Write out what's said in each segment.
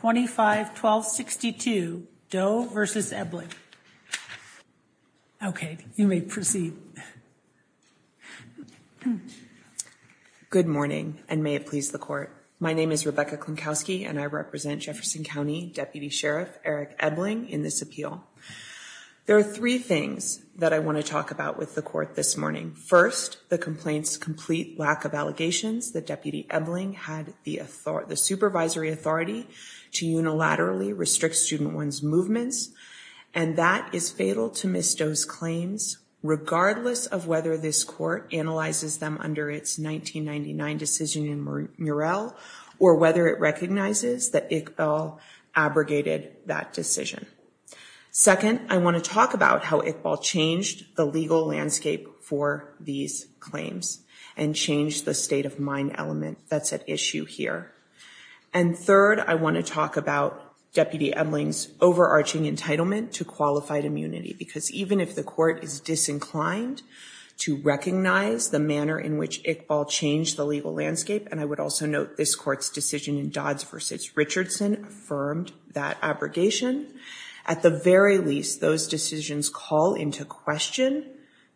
Good morning, and may it please the Court. My name is Rebecca Klinkowski, and I represent Jefferson County Deputy Sheriff Eric Ebling in this appeal. There are three things that I want to talk about with the Court this morning. First, the complaint's complete lack of allegations that Deputy Ebling had the supervisory authority to unilaterally restrict Student One's movements, and that is fatal to Ms. Doe's claims, regardless of whether this Court analyzes them under its 1999 decision in Murrell or whether it recognizes that Iqbal abrogated that decision. Second, I want to talk about how Iqbal changed the legal landscape for these claims and changed the state of mind element that's at issue here. And third, I want to talk about Deputy Ebling's overarching entitlement to qualified immunity, because even if the Court is disinclined to recognize the manner in which Iqbal changed the legal landscape, and I would also note this Court's decision in Dodds v. Richardson affirmed that abrogation, at the very least, those decisions call into question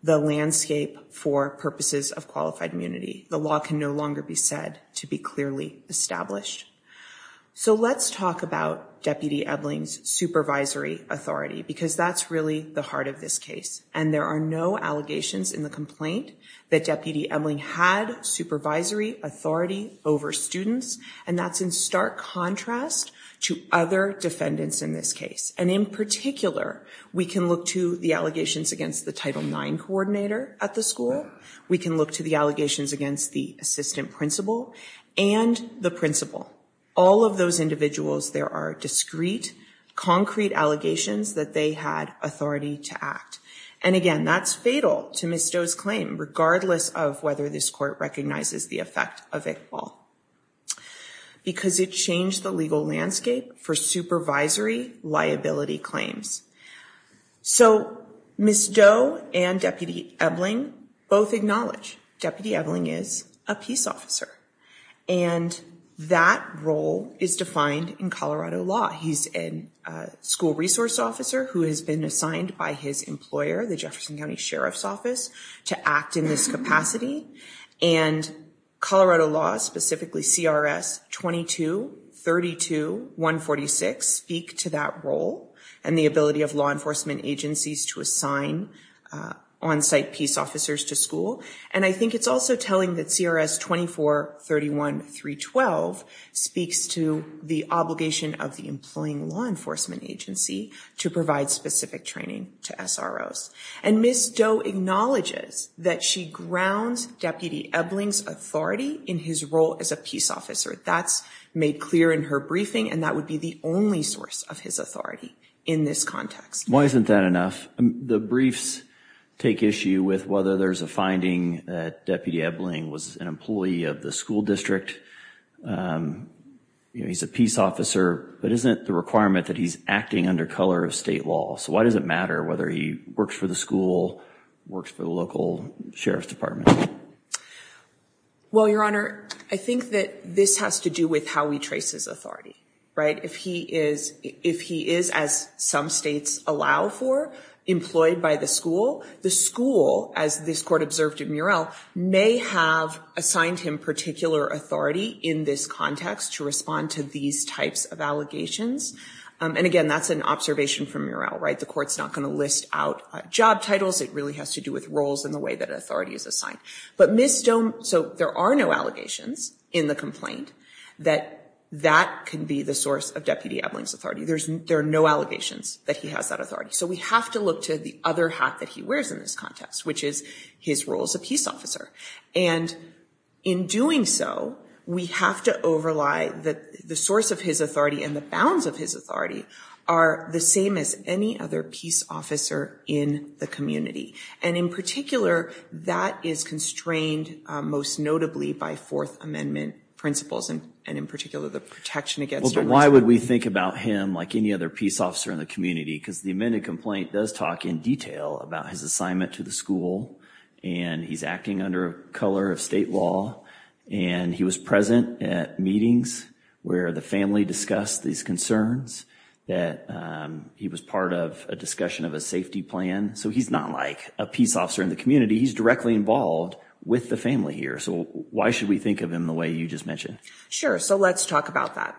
the landscape for purposes of qualified immunity. The law can no longer be said to be clearly established. So let's talk about Deputy Ebling's supervisory authority, because that's really the heart of this case. And there are no allegations in the complaint that Deputy Ebling had supervisory authority over students, and that's in stark contrast to other defendants in this case. And in particular, we can look to the allegations against the Title IX coordinator at the school. We can look to the allegations against the assistant principal and the principal. All of those individuals, there are discrete, concrete allegations that they had authority to act. And again, that's fatal to Ms. Doe's claim, regardless of whether this Court recognizes the effect of Iqbal. Because it changed the legal landscape for supervisory liability claims. So, Ms. Doe and Deputy Ebling both acknowledge Deputy Ebling is a peace officer. And that role is defined in Colorado law. He's a school resource officer who has been assigned by his employer, the Jefferson County Sheriff's Office, to act in this capacity. And Colorado law, specifically CRS 22-32-146, speak to that role and the ability of law enforcement agencies to assign on-site peace officers to school. And I think it's also telling that CRS 24-31-312 speaks to the obligation of the employing law enforcement agency to provide specific training to SROs. And Ms. Doe acknowledges that she grounds Deputy Ebling's authority in his role as a peace officer. That's made clear in her briefing, and that would be the only source of his authority in this context. Why isn't that enough? The briefs take issue with whether there's a finding that Deputy Ebling was an employee of the school district, he's a peace officer, but isn't the requirement that he's acting under color of state law? So why does it matter whether he works for the school, works for the local sheriff's Well, Your Honor, I think that this has to do with how he traces authority, right? If he is, as some states allow for, employed by the school, the school, as this court observed in Murrell, may have assigned him particular authority in this context to respond to these types of allegations. And again, that's an observation from Murrell, right? The court's not going to list out job titles. It really has to do with roles and the way that authority is assigned. But Ms. Doe, so there are no allegations in the complaint that that can be the source of Deputy Ebling's authority. There are no allegations that he has that authority. So we have to look to the other half that he wears in this context, which is his role as a peace officer. And in doing so, we have to overlie that the source of his authority and the bounds of his authority are the same as any other peace officer in the community. And in particular, that is constrained, most notably by Fourth Amendment principles, and in particular, the protection against Well, but why would we think about him like any other peace officer in the community? Because the amended complaint does talk in detail about his assignment to the school and he's acting under color of state law. And he was present at meetings where the family discussed these concerns, that he was part of a discussion of a safety plan. So he's not like a peace officer in the community. He's directly involved with the family here. So why should we think of him the way you just mentioned? Sure. So let's talk about that.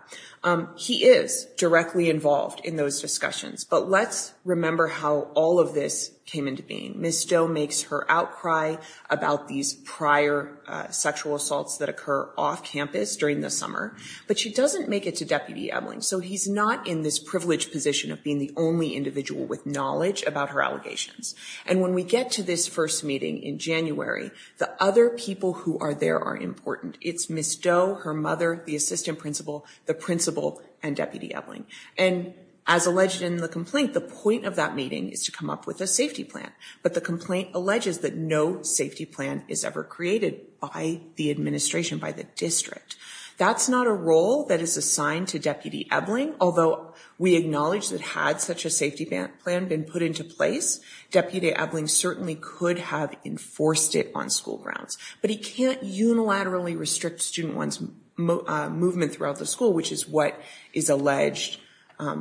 He is directly involved in those discussions. But let's remember how all of this came into being. Ms. Doe makes her outcry about these prior sexual assaults that occur off campus during the summer, but she doesn't make it to Deputy Ebeling. So he's not in this privileged position of being the only individual with knowledge about her allegations. And when we get to this first meeting in January, the other people who are there are important. It's Ms. Doe, her mother, the assistant principal, the principal and Deputy Ebeling. And as alleged in the complaint, the point of that meeting is to come up with a safety plan. But the complaint alleges that no safety plan is ever created by the administration, by the district. That's not a role that is assigned to Deputy Ebeling, although we acknowledge that had such a safety plan been put into place, Deputy Ebeling certainly could have enforced it on school grounds. But he can't unilaterally restrict student one's movement throughout the school, which is what is alleged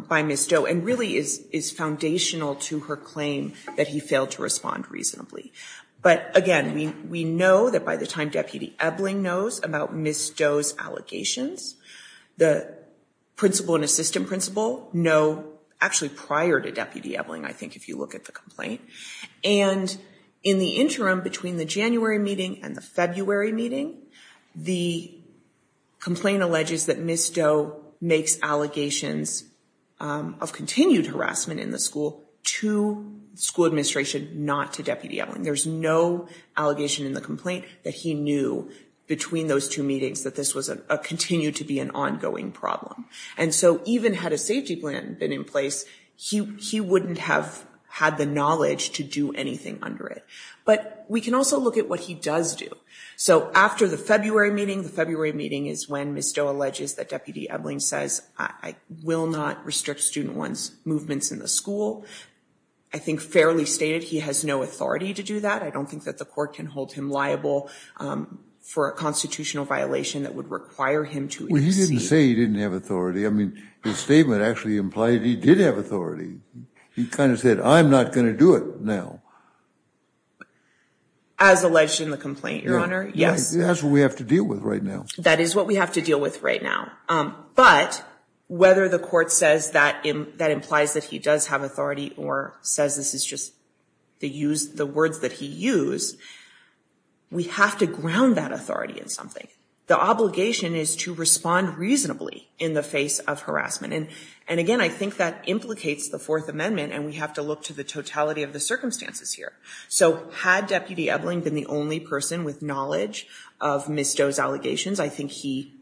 by Ms. Doe's complaint that he failed to respond reasonably. But again, we know that by the time Deputy Ebeling knows about Ms. Doe's allegations, the principal and assistant principal know actually prior to Deputy Ebeling, I think, if you look at the complaint and in the interim between the January meeting and the February meeting, the complaint alleges that Ms. Doe's allegations of continued harassment in the school to school administration, not to Deputy Ebeling. There's no allegation in the complaint that he knew between those two meetings that this was a continued to be an ongoing problem. And so even had a safety plan been in place, he wouldn't have had the knowledge to do anything under it. But we can also look at what he does do. So after the February meeting, the February meeting is when Ms. Doe alleges that Deputy Ebeling says, I will not restrict student one's movements in the school. I think fairly stated, he has no authority to do that. I don't think that the court can hold him liable for a constitutional violation that would require him to. He didn't say he didn't have authority. I mean, his statement actually implied he did have authority. He kind of said, I'm not going to do it now. As alleged in the complaint, your honor. Yes, that's what we have to deal with right now. That is what we have to deal with right now. But whether the court says that that implies that he does have authority or says this is just the use, the words that he used, we have to ground that authority in something. The obligation is to respond reasonably in the face of harassment. And and again, I think that implicates the Fourth Amendment. And we have to look to the totality of the circumstances here. So had Deputy Ebeling been the only person with knowledge of Ms. Doe's allegations, I think he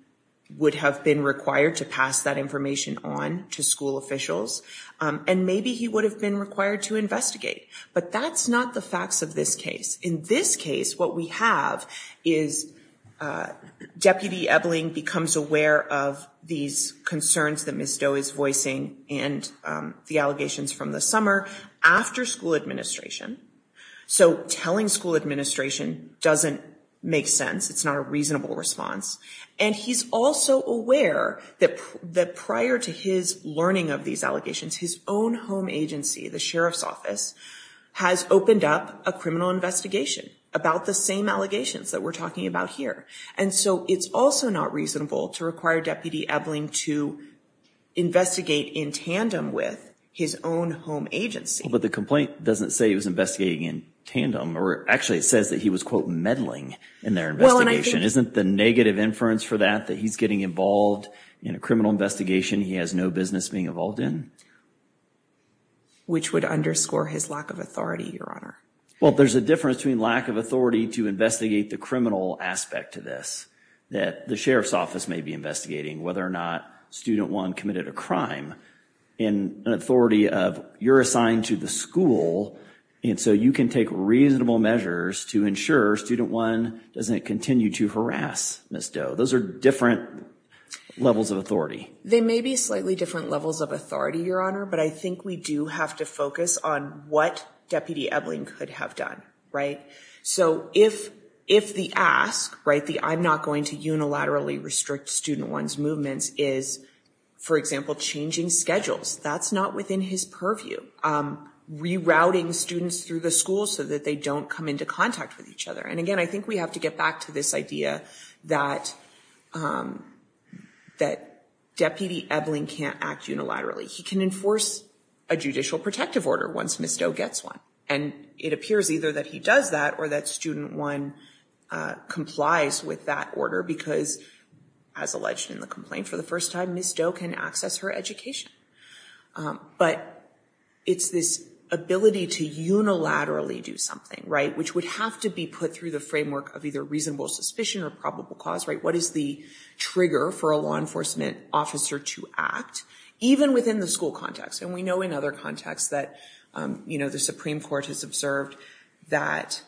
would have been required to pass that information on to school officials. And maybe he would have been required to investigate. But that's not the facts of this case. In this case, what we have is Deputy Ebeling becomes aware of these concerns that Ms. Doe is voicing and the allegations from the summer after school administration. So telling school administration doesn't make sense. It's not a reasonable response. And he's also aware that that prior to his learning of these allegations, his own home agency, the sheriff's office, has opened up a criminal investigation about the same allegations that we're talking about here. And so it's also not reasonable to require Deputy Ebeling to investigate in tandem with his own home agency. But the complaint doesn't say he was investigating in tandem or actually it says that he was, quote, meddling in their investigation. Isn't the negative inference for that that he's getting involved in a criminal investigation he has no business being involved in? Which would underscore his lack of authority, Your Honor. Well, there's a difference between lack of authority to investigate the criminal aspect to this that the sheriff's office may be investigating, whether or not student one committed a crime in an authority of you're assigned to the school. And so you can take reasonable measures to ensure student one doesn't continue to harass Ms. Doe. Those are different levels of authority. They may be slightly different levels of authority, Your Honor, but I think we do have to focus on what Deputy Ebeling could have done. Right. So if if the ask, right, the I'm not going to unilaterally restrict student one's movements is, for example, changing schedules. That's not within his purview. Rerouting students through the school so that they don't come into contact with each other. And again, I think we have to get back to this idea that that Deputy Ebeling can't act unilaterally. He can enforce a judicial protective order once Ms. Doe gets one. And it appears either that he does that or that student one complies with that order because, as alleged in the complaint for the first time, Ms. Doe can access her education. But it's this ability to unilaterally do something right, which would have to be put through the framework of either reasonable suspicion or probable cause. Right. What is the trigger for a law enforcement officer to act even within the school context? And we know in other contexts that, you know, the Supreme Court has observed that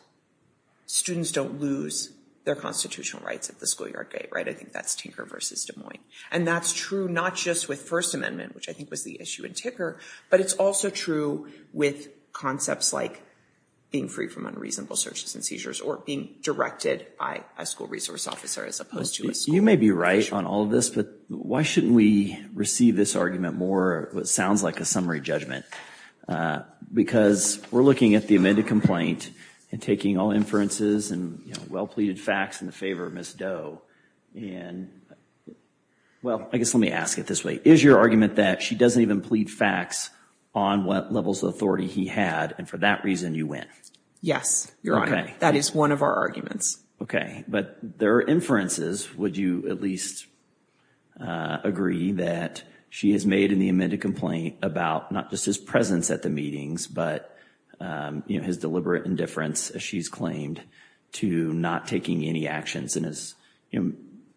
students don't lose their constitutional rights at the schoolyard gate. Right. I think that's Tinker versus Des Moines. And that's true not just with First Amendment, which I think was the issue in Tinker, but it's also true with concepts like being free from unreasonable searches and seizures or being directed by a school resource officer as opposed to a school. You may be right on all of this, but why shouldn't we receive this argument more? It sounds like a summary judgment because we're looking at the amended complaint and taking all inferences and well-pleaded facts in the favor of Ms. And well, I guess let me ask it this way. Is your argument that she doesn't even plead facts on what levels of authority he had? And for that reason, you win? Yes, Your Honor. That is one of our arguments. OK, but there are inferences. Would you at least agree that she has made in the amended complaint about not just his presence at the meetings, but his deliberate indifference, as she's claimed, to not taking any actions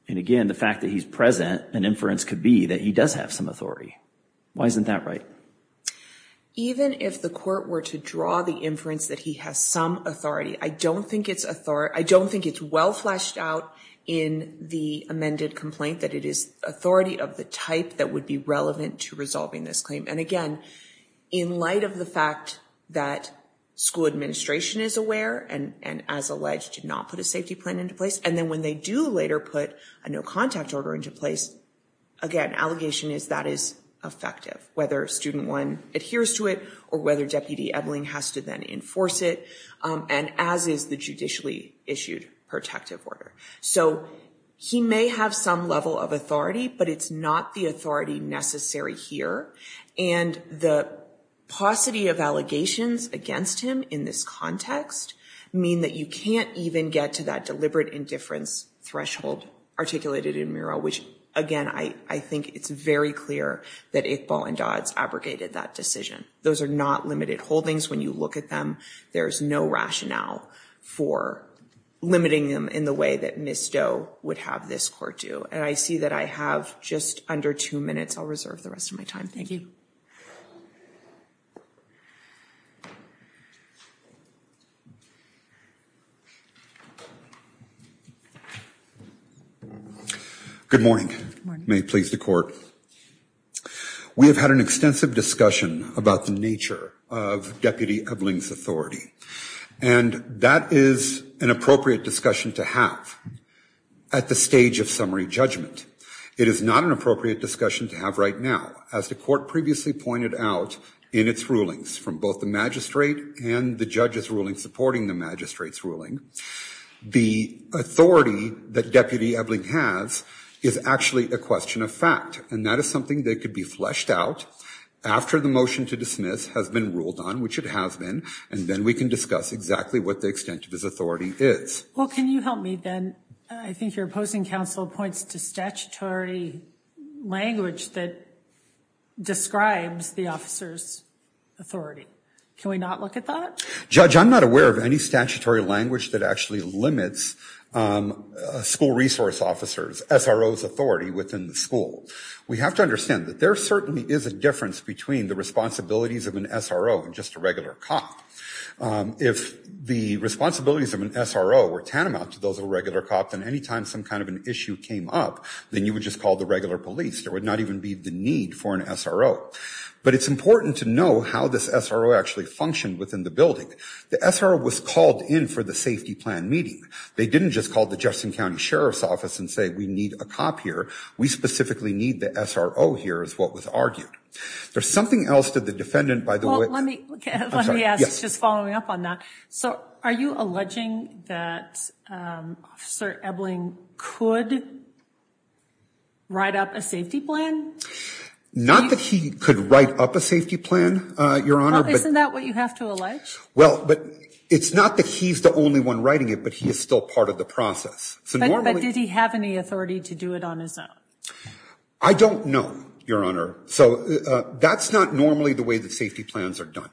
and again, the fact that he's present, an inference could be that he does have some authority. Why isn't that right? Even if the court were to draw the inference that he has some authority, I don't think it's well fleshed out in the amended complaint that it is authority of the type that would be relevant to resolving this claim. And again, in light of the fact that school administration is aware and as alleged, did not put a safety plan into place. And then when they do later put a no contact order into place, again, allegation is that is effective, whether student one adheres to it or whether Deputy Edling has to then enforce it. And as is the judicially issued protective order. So he may have some level of authority, but it's not the authority necessary here. And the paucity of allegations against him in this context mean that you can't even get to that deliberate indifference threshold articulated in Murrow, which, again, I think it's very clear that Iqbal and Dodds abrogated that decision. Those are not limited holdings. When you look at them, there's no rationale for limiting them in the way that Ms. Doe would have this court do. And I see that I have just under two minutes. I'll reserve the rest of my time. Thank you. Good morning. May it please the court. We have had an extensive discussion about the nature of Deputy Edling's authority, and that is an appropriate discussion to have at the stage of summary judgment. It is not an appropriate discussion to have right now, as the court previously pointed out in its rulings from both the magistrate and the judge's ruling supporting the magistrate's ruling. The authority that Deputy Edling has is actually a question of fact, and that is something that could be fleshed out after the motion to dismiss has been ruled on, which it has been. And then we can discuss exactly what the extent of his authority is. Well, can you help me then? I think your opposing counsel points to statutory language that describes the officer's Can we not look at that? Judge, I'm not aware of any statutory language that actually limits a school resource officer's, SRO's authority within the school. We have to understand that there certainly is a difference between the responsibilities of an SRO and just a regular cop. If the responsibilities of an SRO were tantamount to those of a regular cop, then anytime some kind of an issue came up, then you would just call the regular police. There would not even be the need for an SRO. But it's important to know how this SRO actually functioned within the building. The SRO was called in for the safety plan meeting. They didn't just call the Jefferson County Sheriff's Office and say, we need a cop here. We specifically need the SRO here, is what was argued. There's something else to the defendant, by the way. Let me let me ask, just following up on that. So are you alleging that Officer Ebling could write up a safety plan? Not that he could write up a safety plan, Your Honor. Isn't that what you have to allege? Well, but it's not that he's the only one writing it, but he is still part of the process. But did he have any authority to do it on his own? I don't know, Your Honor. So that's not normally the way that safety plans are done.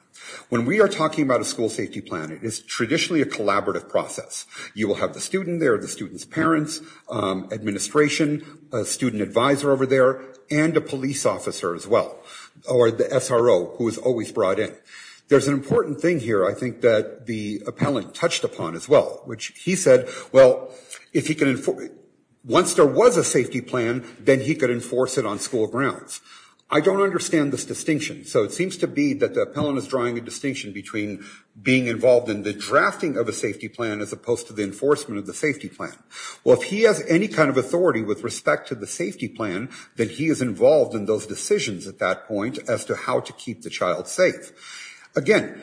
When we are talking about a school safety plan, it is traditionally a collaborative process. You will have the student there, the student's parents, administration, a student advisor over there, and a police officer as well, or the SRO who is always brought in. There's an important thing here, I think, that the appellant touched upon as well, which he said, well, if he can, once there was a safety plan, then he could enforce it on school grounds. I don't understand this distinction. So it seems to be that the appellant is drawing a distinction between being involved in the drafting of a safety plan as opposed to the enforcement of the safety plan. Well, if he has any kind of authority with respect to the safety plan, then he is involved in those decisions at that point as to how to keep the child safe. Again,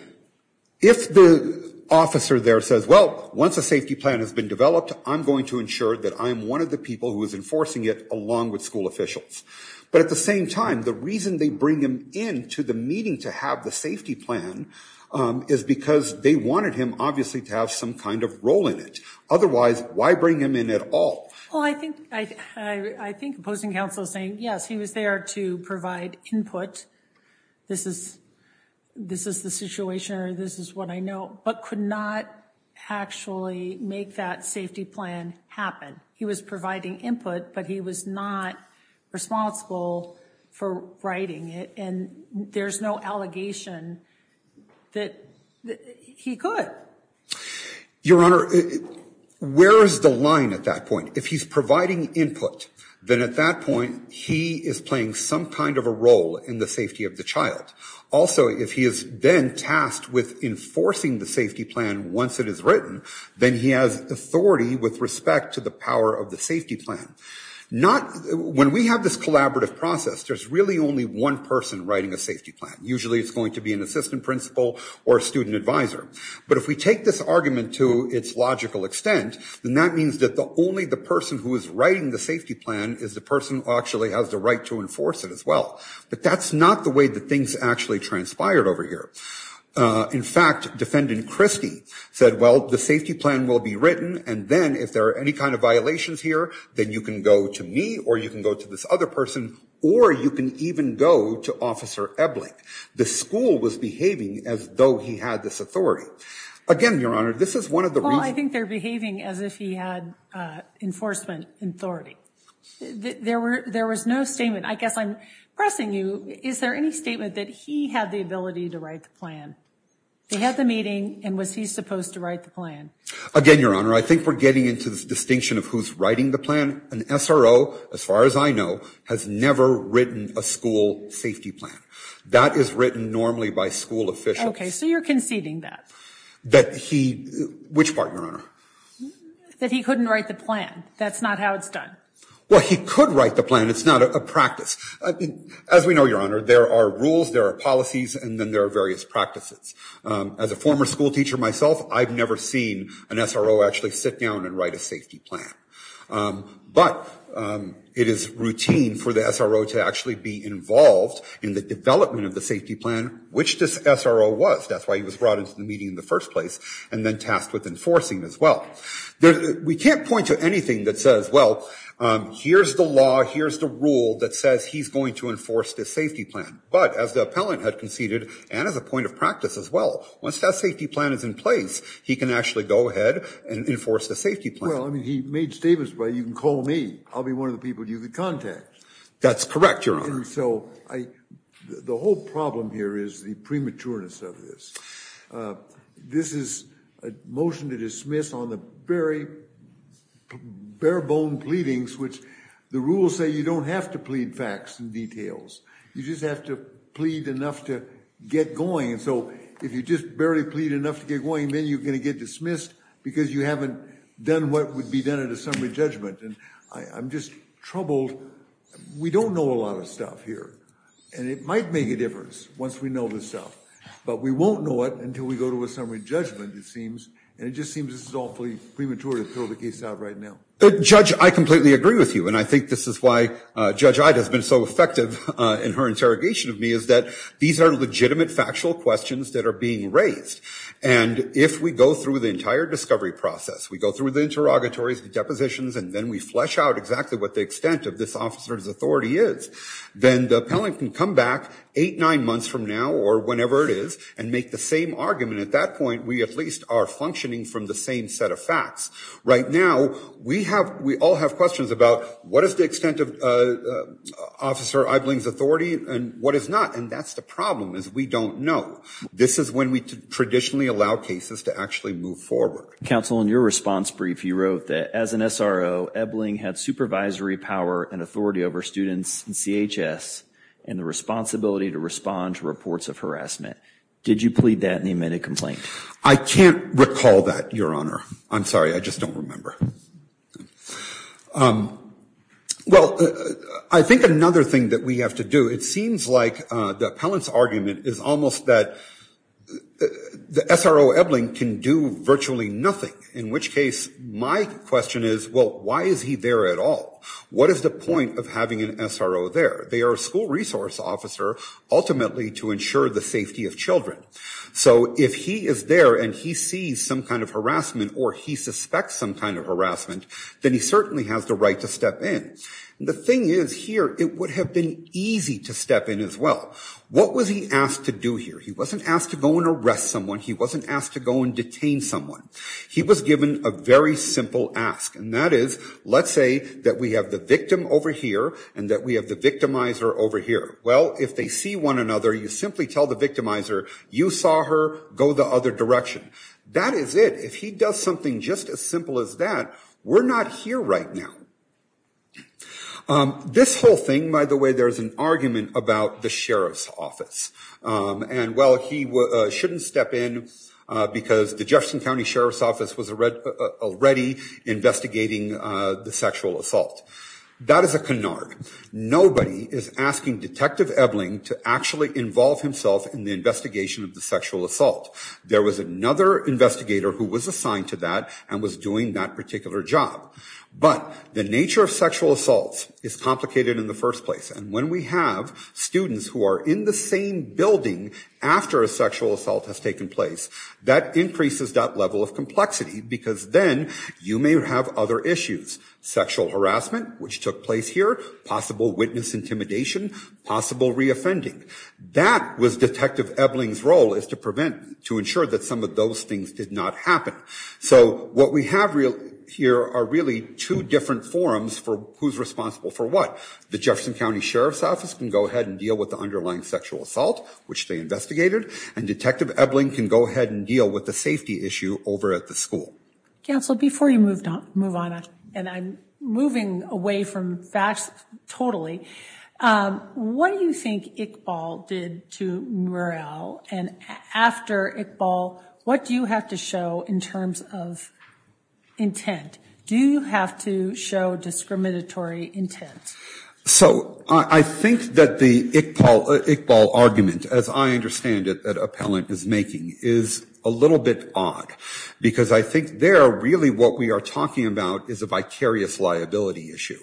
if the officer there says, well, once a safety plan has been developed, I'm going to ensure that I am one of the people who is enforcing it along with school officials. But at the same time, the reason they bring him in to the meeting to have the safety plan is because they wanted him, obviously, to have some kind of role in it. Otherwise, why bring him in at all? Well, I think I think opposing counsel is saying, yes, he was there to provide input. This is this is the situation or this is what I know, but could not actually make that safety plan happen. He was providing input, but he was not responsible for writing it. And there's no allegation that he could. Your Honor, where is the line at that point? If he's providing input, then at that point he is playing some kind of a role in the safety of the child. Also, if he has been tasked with enforcing the safety plan once it is written, then he has authority with respect to the power of the safety plan. Not when we have this collaborative process, there's really only one person writing a safety plan. Usually it's going to be an assistant principal or a student advisor. But if we take this argument to its logical extent, then that means that the only the person who is writing the safety plan is the person actually has the right to enforce it as well. But that's not the way that things actually transpired over here. In fact, Defendant Christie said, well, the safety plan will be written. And then if there are any kind of violations here, then you can go to me or you can go to this other person or you can even go to Officer Ebeling. The school was behaving as though he had this authority. Again, Your Honor, this is one of the reasons. Well, I think they're behaving as if he had enforcement authority. There were there was no statement. I guess I'm pressing you. Is there any statement that he had the ability to write the plan? They had the meeting. And was he supposed to write the plan? Again, Your Honor, I think we're getting into this distinction of who's writing the plan. An SRO, as far as I know, has never written a school safety plan that is written normally by school officials. OK, so you're conceding that. That he, which part, Your Honor? That he couldn't write the plan. That's not how it's done. Well, he could write the plan. It's not a practice. As we know, Your Honor, there are rules, there are policies, and then there are various practices. As a former school teacher myself, I've never seen an SRO actually sit down and write a safety plan. But it is routine for the SRO to actually be involved in the development of the safety plan, which this SRO was. That's why he was brought into the meeting in the first place and then tasked with enforcing as well. We can't point to anything that says, well, here's the law, here's the rule that says he's going to enforce the safety plan. But as the appellant had conceded, and as a point of practice as well, once that safety plan is in place, he can actually go ahead and enforce the safety plan. Well, I mean, he made statements, well, you can call me. I'll be one of the people you can contact. That's correct, Your Honor. And so the whole problem here is the prematurity of this. This is a motion to dismiss on the very bare-bone pleadings, which the rules say you don't have to plead facts and details. You just have to plead enough to get going. And so if you just barely plead enough to get going, then you're going to get dismissed because you haven't done what would be done at a summary judgment. And I'm just troubled. We don't know a lot of stuff here, and it might make a difference once we know this stuff. But we won't know it until we go to a summary judgment, it seems. And it just seems this is awfully premature to throw the case out right now. Judge, I completely agree with you. And I think this is why Judge Ida has been so effective in her interrogation of me, is that these are legitimate, factual questions that are being raised. And if we go through the entire discovery process, we go through the interrogatories, the depositions, and then we flesh out exactly what the extent of this officer's authority is, then the appellant can come back eight, nine months from now or whenever it is and make the same argument. At that point, we at least are functioning from the same set of facts. Right now, we all have questions about what is the extent of Officer Ebling's authority and what is not. And that's the problem, is we don't know. This is when we traditionally allow cases to actually move forward. Counsel, in your response brief, you wrote that as an SRO, Ebling had supervisory power and authority over students in CHS and the responsibility to respond to reports of harassment. Did you plead that and you made a complaint? I can't recall that, Your Honor. I'm sorry. I just don't remember. Well, I think another thing that we have to do, it seems like the appellant's argument is almost that the SRO Ebling can do virtually nothing, in which case my question is, well, why is he there at all? What is the point of having an SRO there? They are a school resource officer, ultimately to ensure the safety of children. So if he is there and he sees some kind of harassment or he suspects some kind of harassment, then he certainly has the right to step in. The thing is here, it would have been easy to step in as well. What was he asked to do here? He wasn't asked to go and arrest someone. He wasn't asked to go and detain someone. He was given a very simple ask, and that is, let's say that we have the victim over here and that we have the victimizer over here. Well, if they see one another, you simply tell the victimizer, you saw her go the other direction. That is it. If he does something just as simple as that, we're not here right now. This whole thing, by the way, there's an argument about the sheriff's office. And while he shouldn't step in because the Jefferson County Sheriff's Office was already investigating the sexual assault, that is a canard. Nobody is asking Detective Ebeling to actually involve himself in the investigation of the sexual assault. There was another investigator who was assigned to that and was doing that particular job. But the nature of sexual assault is complicated in the first place. And when we have students who are in the same building after a sexual assault has taken place, that increases that level of complexity because then you may have other issues. Sexual harassment, which took place here, possible witness intimidation, possible reoffending. That was Detective Ebeling's role is to prevent, to ensure that some of those things did not happen. So what we have here are really two different forums for who's responsible for what. The Jefferson County Sheriff's Office can go ahead and deal with the underlying sexual assault, which they investigated. And Detective Ebeling can go ahead and deal with the safety issue over at the school. Counsel, before you move on, and I'm moving away from facts totally. What do you think Iqbal did to Mural? And after Iqbal, what do you have to show in terms of intent? Do you have to show discriminatory intent? So I think that the Iqbal argument, as I understand it, that Appellant is making is a little bit odd because I think there really what we are talking about is a vicarious liability issue.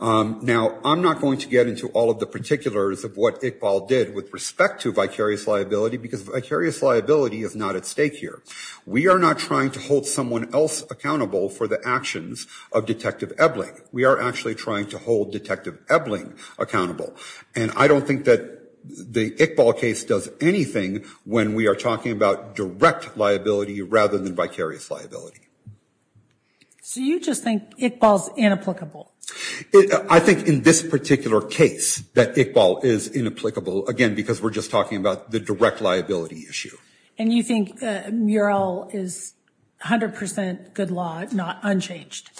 Now, I'm not going to get into all of the particulars of what Iqbal did with respect to vicarious liability because vicarious liability is not at stake here. We are not trying to hold someone else accountable for the actions of Detective Ebeling. We are actually trying to hold Detective Ebeling accountable. And I don't think that the Iqbal case does anything when we are talking about direct liability rather than vicarious liability. So you just think Iqbal's inapplicable? I think in this particular case that Iqbal is inapplicable, again, because we're just talking about the direct liability issue. And you think Mural is 100 percent good law, not unchanged?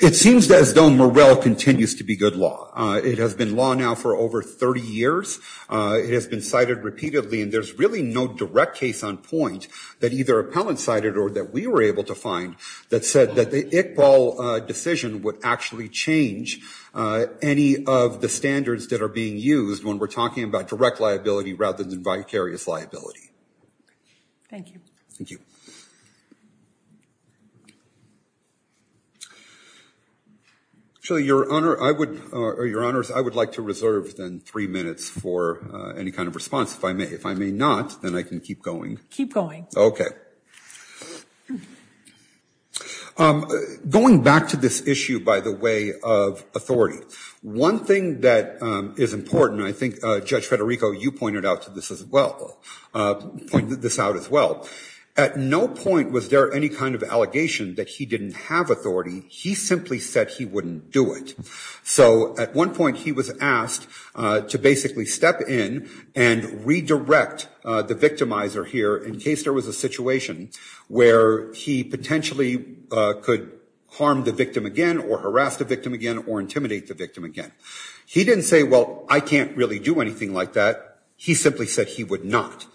It seems as though Mural continues to be good law. It has been law now for over 30 years. It has been cited repeatedly. And there's really no direct case on point that either Appellant cited or that we were able to find that said that the Iqbal decision would actually change any of the standards that are being used when we're talking about direct liability rather than vicarious liability. Thank you. Actually, Your Honor, I would, or Your Honors, I would like to reserve then three minutes for any kind of response, if I may. If I may not, then I can keep going. Keep going. OK. Going back to this issue, by the way, of authority, one thing that is important, I think Judge Federico, you pointed out to this as well, pointed this out as well. At no point was there any kind of allegation that he didn't have authority. He simply said he wouldn't do it. So at one point he was asked to basically step in and redirect the victimizer here in case there was a situation where he potentially could harm the victim again or harass the victim again or intimidate the victim again. He didn't say, well, I can't really do anything like that. He simply said he would not.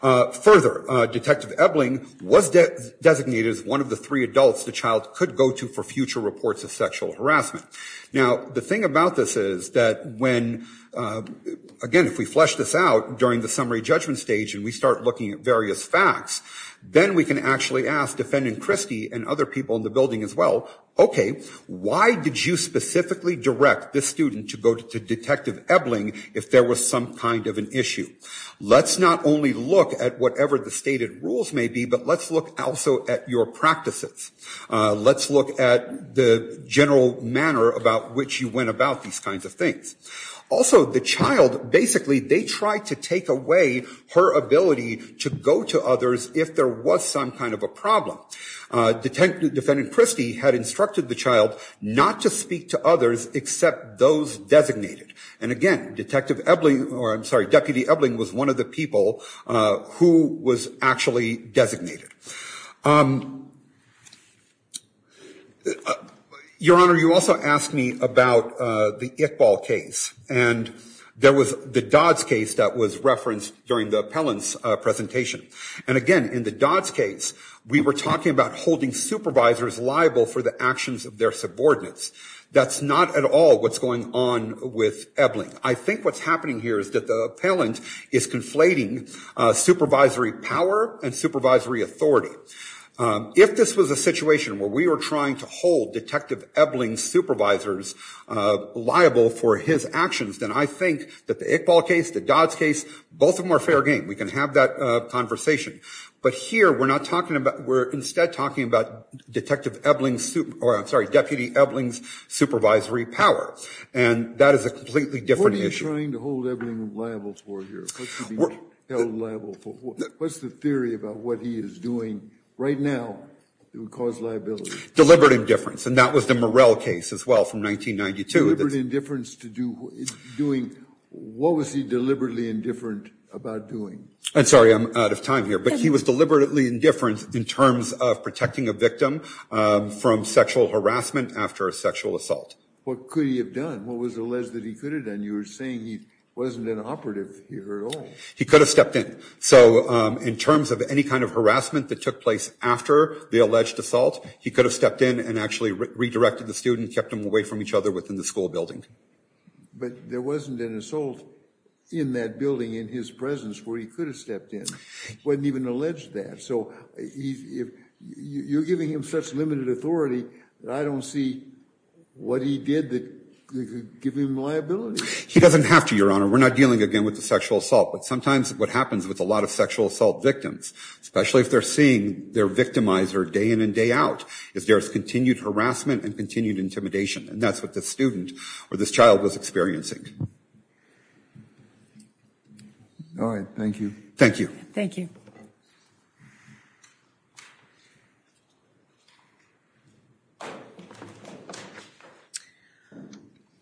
Further, Detective Ebling was designated as one of the three adults the child could go to for future reports of sexual harassment. Now, the thing about this is that when, again, if we flesh this out during the summary judgment stage and we start looking at various facts, then we can actually ask Defendant Christie and other people in the building as well. OK, why did you specifically direct this student to go to Detective Ebling if there was some kind of an issue? Let's not only look at whatever the stated rules may be, but let's look also at your practices. Let's look at the general manner about which you went about these kinds of things. Also, the child, basically, they tried to take away her ability to go to others if there was some kind of a problem. Detective Defendant Christie had instructed the child not to speak to others except those designated. And again, Detective Ebling, or I'm sorry, Deputy Ebling was one of the people who was actually designated. Your Honor, you also asked me about the Iqbal case, and there was the Dodds case that was referenced during the appellant's presentation. And again, in the Dodds case, we were talking about holding supervisors liable for the actions of their subordinates. That's not at all what's going on with Ebling. I think what's happening here is that the appellant is conflating supervisory power and supervisory authority. If this was a situation where we were trying to hold Detective Ebling's supervisors liable for his actions, then I think that the Iqbal case, the Dodds case, both of them are fair game. We can have that conversation. But here, we're not talking about, we're instead talking about Detective Ebling's, or I'm sorry, Deputy Ebling's supervisory power. And that is a completely different issue. What are you trying to hold Ebling liable for here? What's the theory about what he is doing right now that would cause liability? Deliberate indifference. And that was the Morell case as well from 1992. Deliberate indifference to doing, what was he deliberately indifferent about doing? I'm sorry, I'm out of time here. But he was deliberately indifferent in terms of protecting a victim from sexual harassment after a sexual assault. What could he have done? What was alleged that he could have done? You were saying he wasn't an operative here at all. He could have stepped in. So in terms of any kind of harassment that took place after the alleged assault, he could have stepped in and actually redirected the student, kept him away from each other within the school building. But there wasn't an assault in that building in his presence where he could have stepped in. He wasn't even alleged to that. So you're giving him such limited authority that I don't see what he did that could give him liability. He doesn't have to, Your Honor. We're not dealing again with the sexual assault. But sometimes what happens with a lot of sexual assault victims, especially if they're seeing their victimizer day in and day out, is there's continued harassment and continued intimidation. And that's what the student or this child was experiencing. All right, thank you. Thank you. Thank you.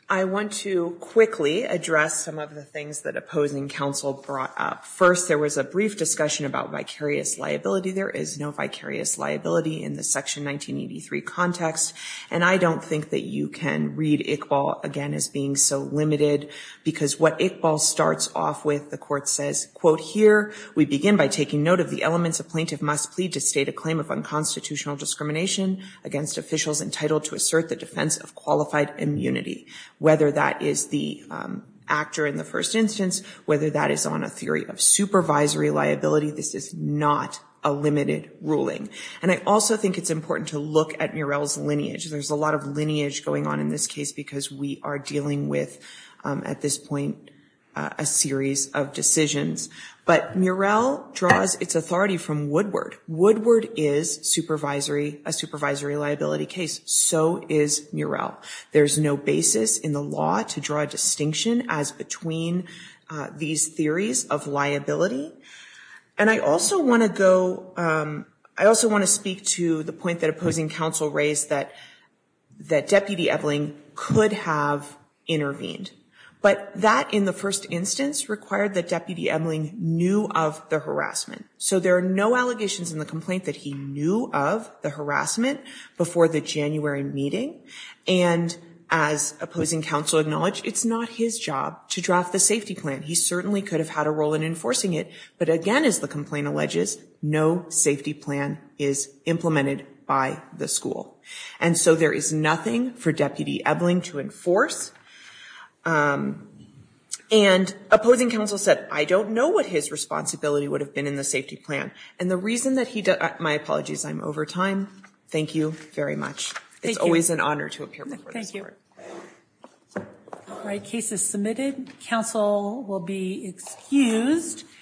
I want to quickly address some of the things that opposing counsel brought up. First, there was a brief discussion about vicarious liability. There is no vicarious liability in the Section 1983 context. And I don't think that you can read Iqbal again as being so limited because what Iqbal starts off with, the court says, quote, here. We begin by taking note of the elements a plaintiff must plead to state a claim of unconstitutional discrimination against officials entitled to assert the defense of qualified immunity. Whether that is the actor in the first instance, whether that is on a theory of supervisory liability, this is not a limited ruling. And I also think it's important to look at Murrell's lineage. There's a lot of lineage going on in this case because we are dealing with, at this point, a series of decisions. But Murrell draws its authority from Woodward. Woodward is supervisory, a supervisory liability case. So is Murrell. There's no basis in the law to draw a distinction as between these theories of liability. And I also want to go, I also want to speak to the point that opposing counsel raised that that Deputy Ebeling could have intervened. But that, in the first instance, required that Deputy Ebeling knew of the harassment. So there are no allegations in the complaint that he knew of the harassment before the January meeting. And as opposing counsel acknowledged, it's not his job to draft the safety plan. He certainly could have had a role in enforcing it. But again, as the complaint alleges, no safety plan is implemented by the school. And so there is nothing for Deputy Ebeling to enforce. And opposing counsel said, I don't know what his responsibility would have been in the safety plan. And the reason that he, my apologies, I'm over time. Thank you very much. It's always an honor to appear before this court. All right, case is submitted. Counsel will be excused.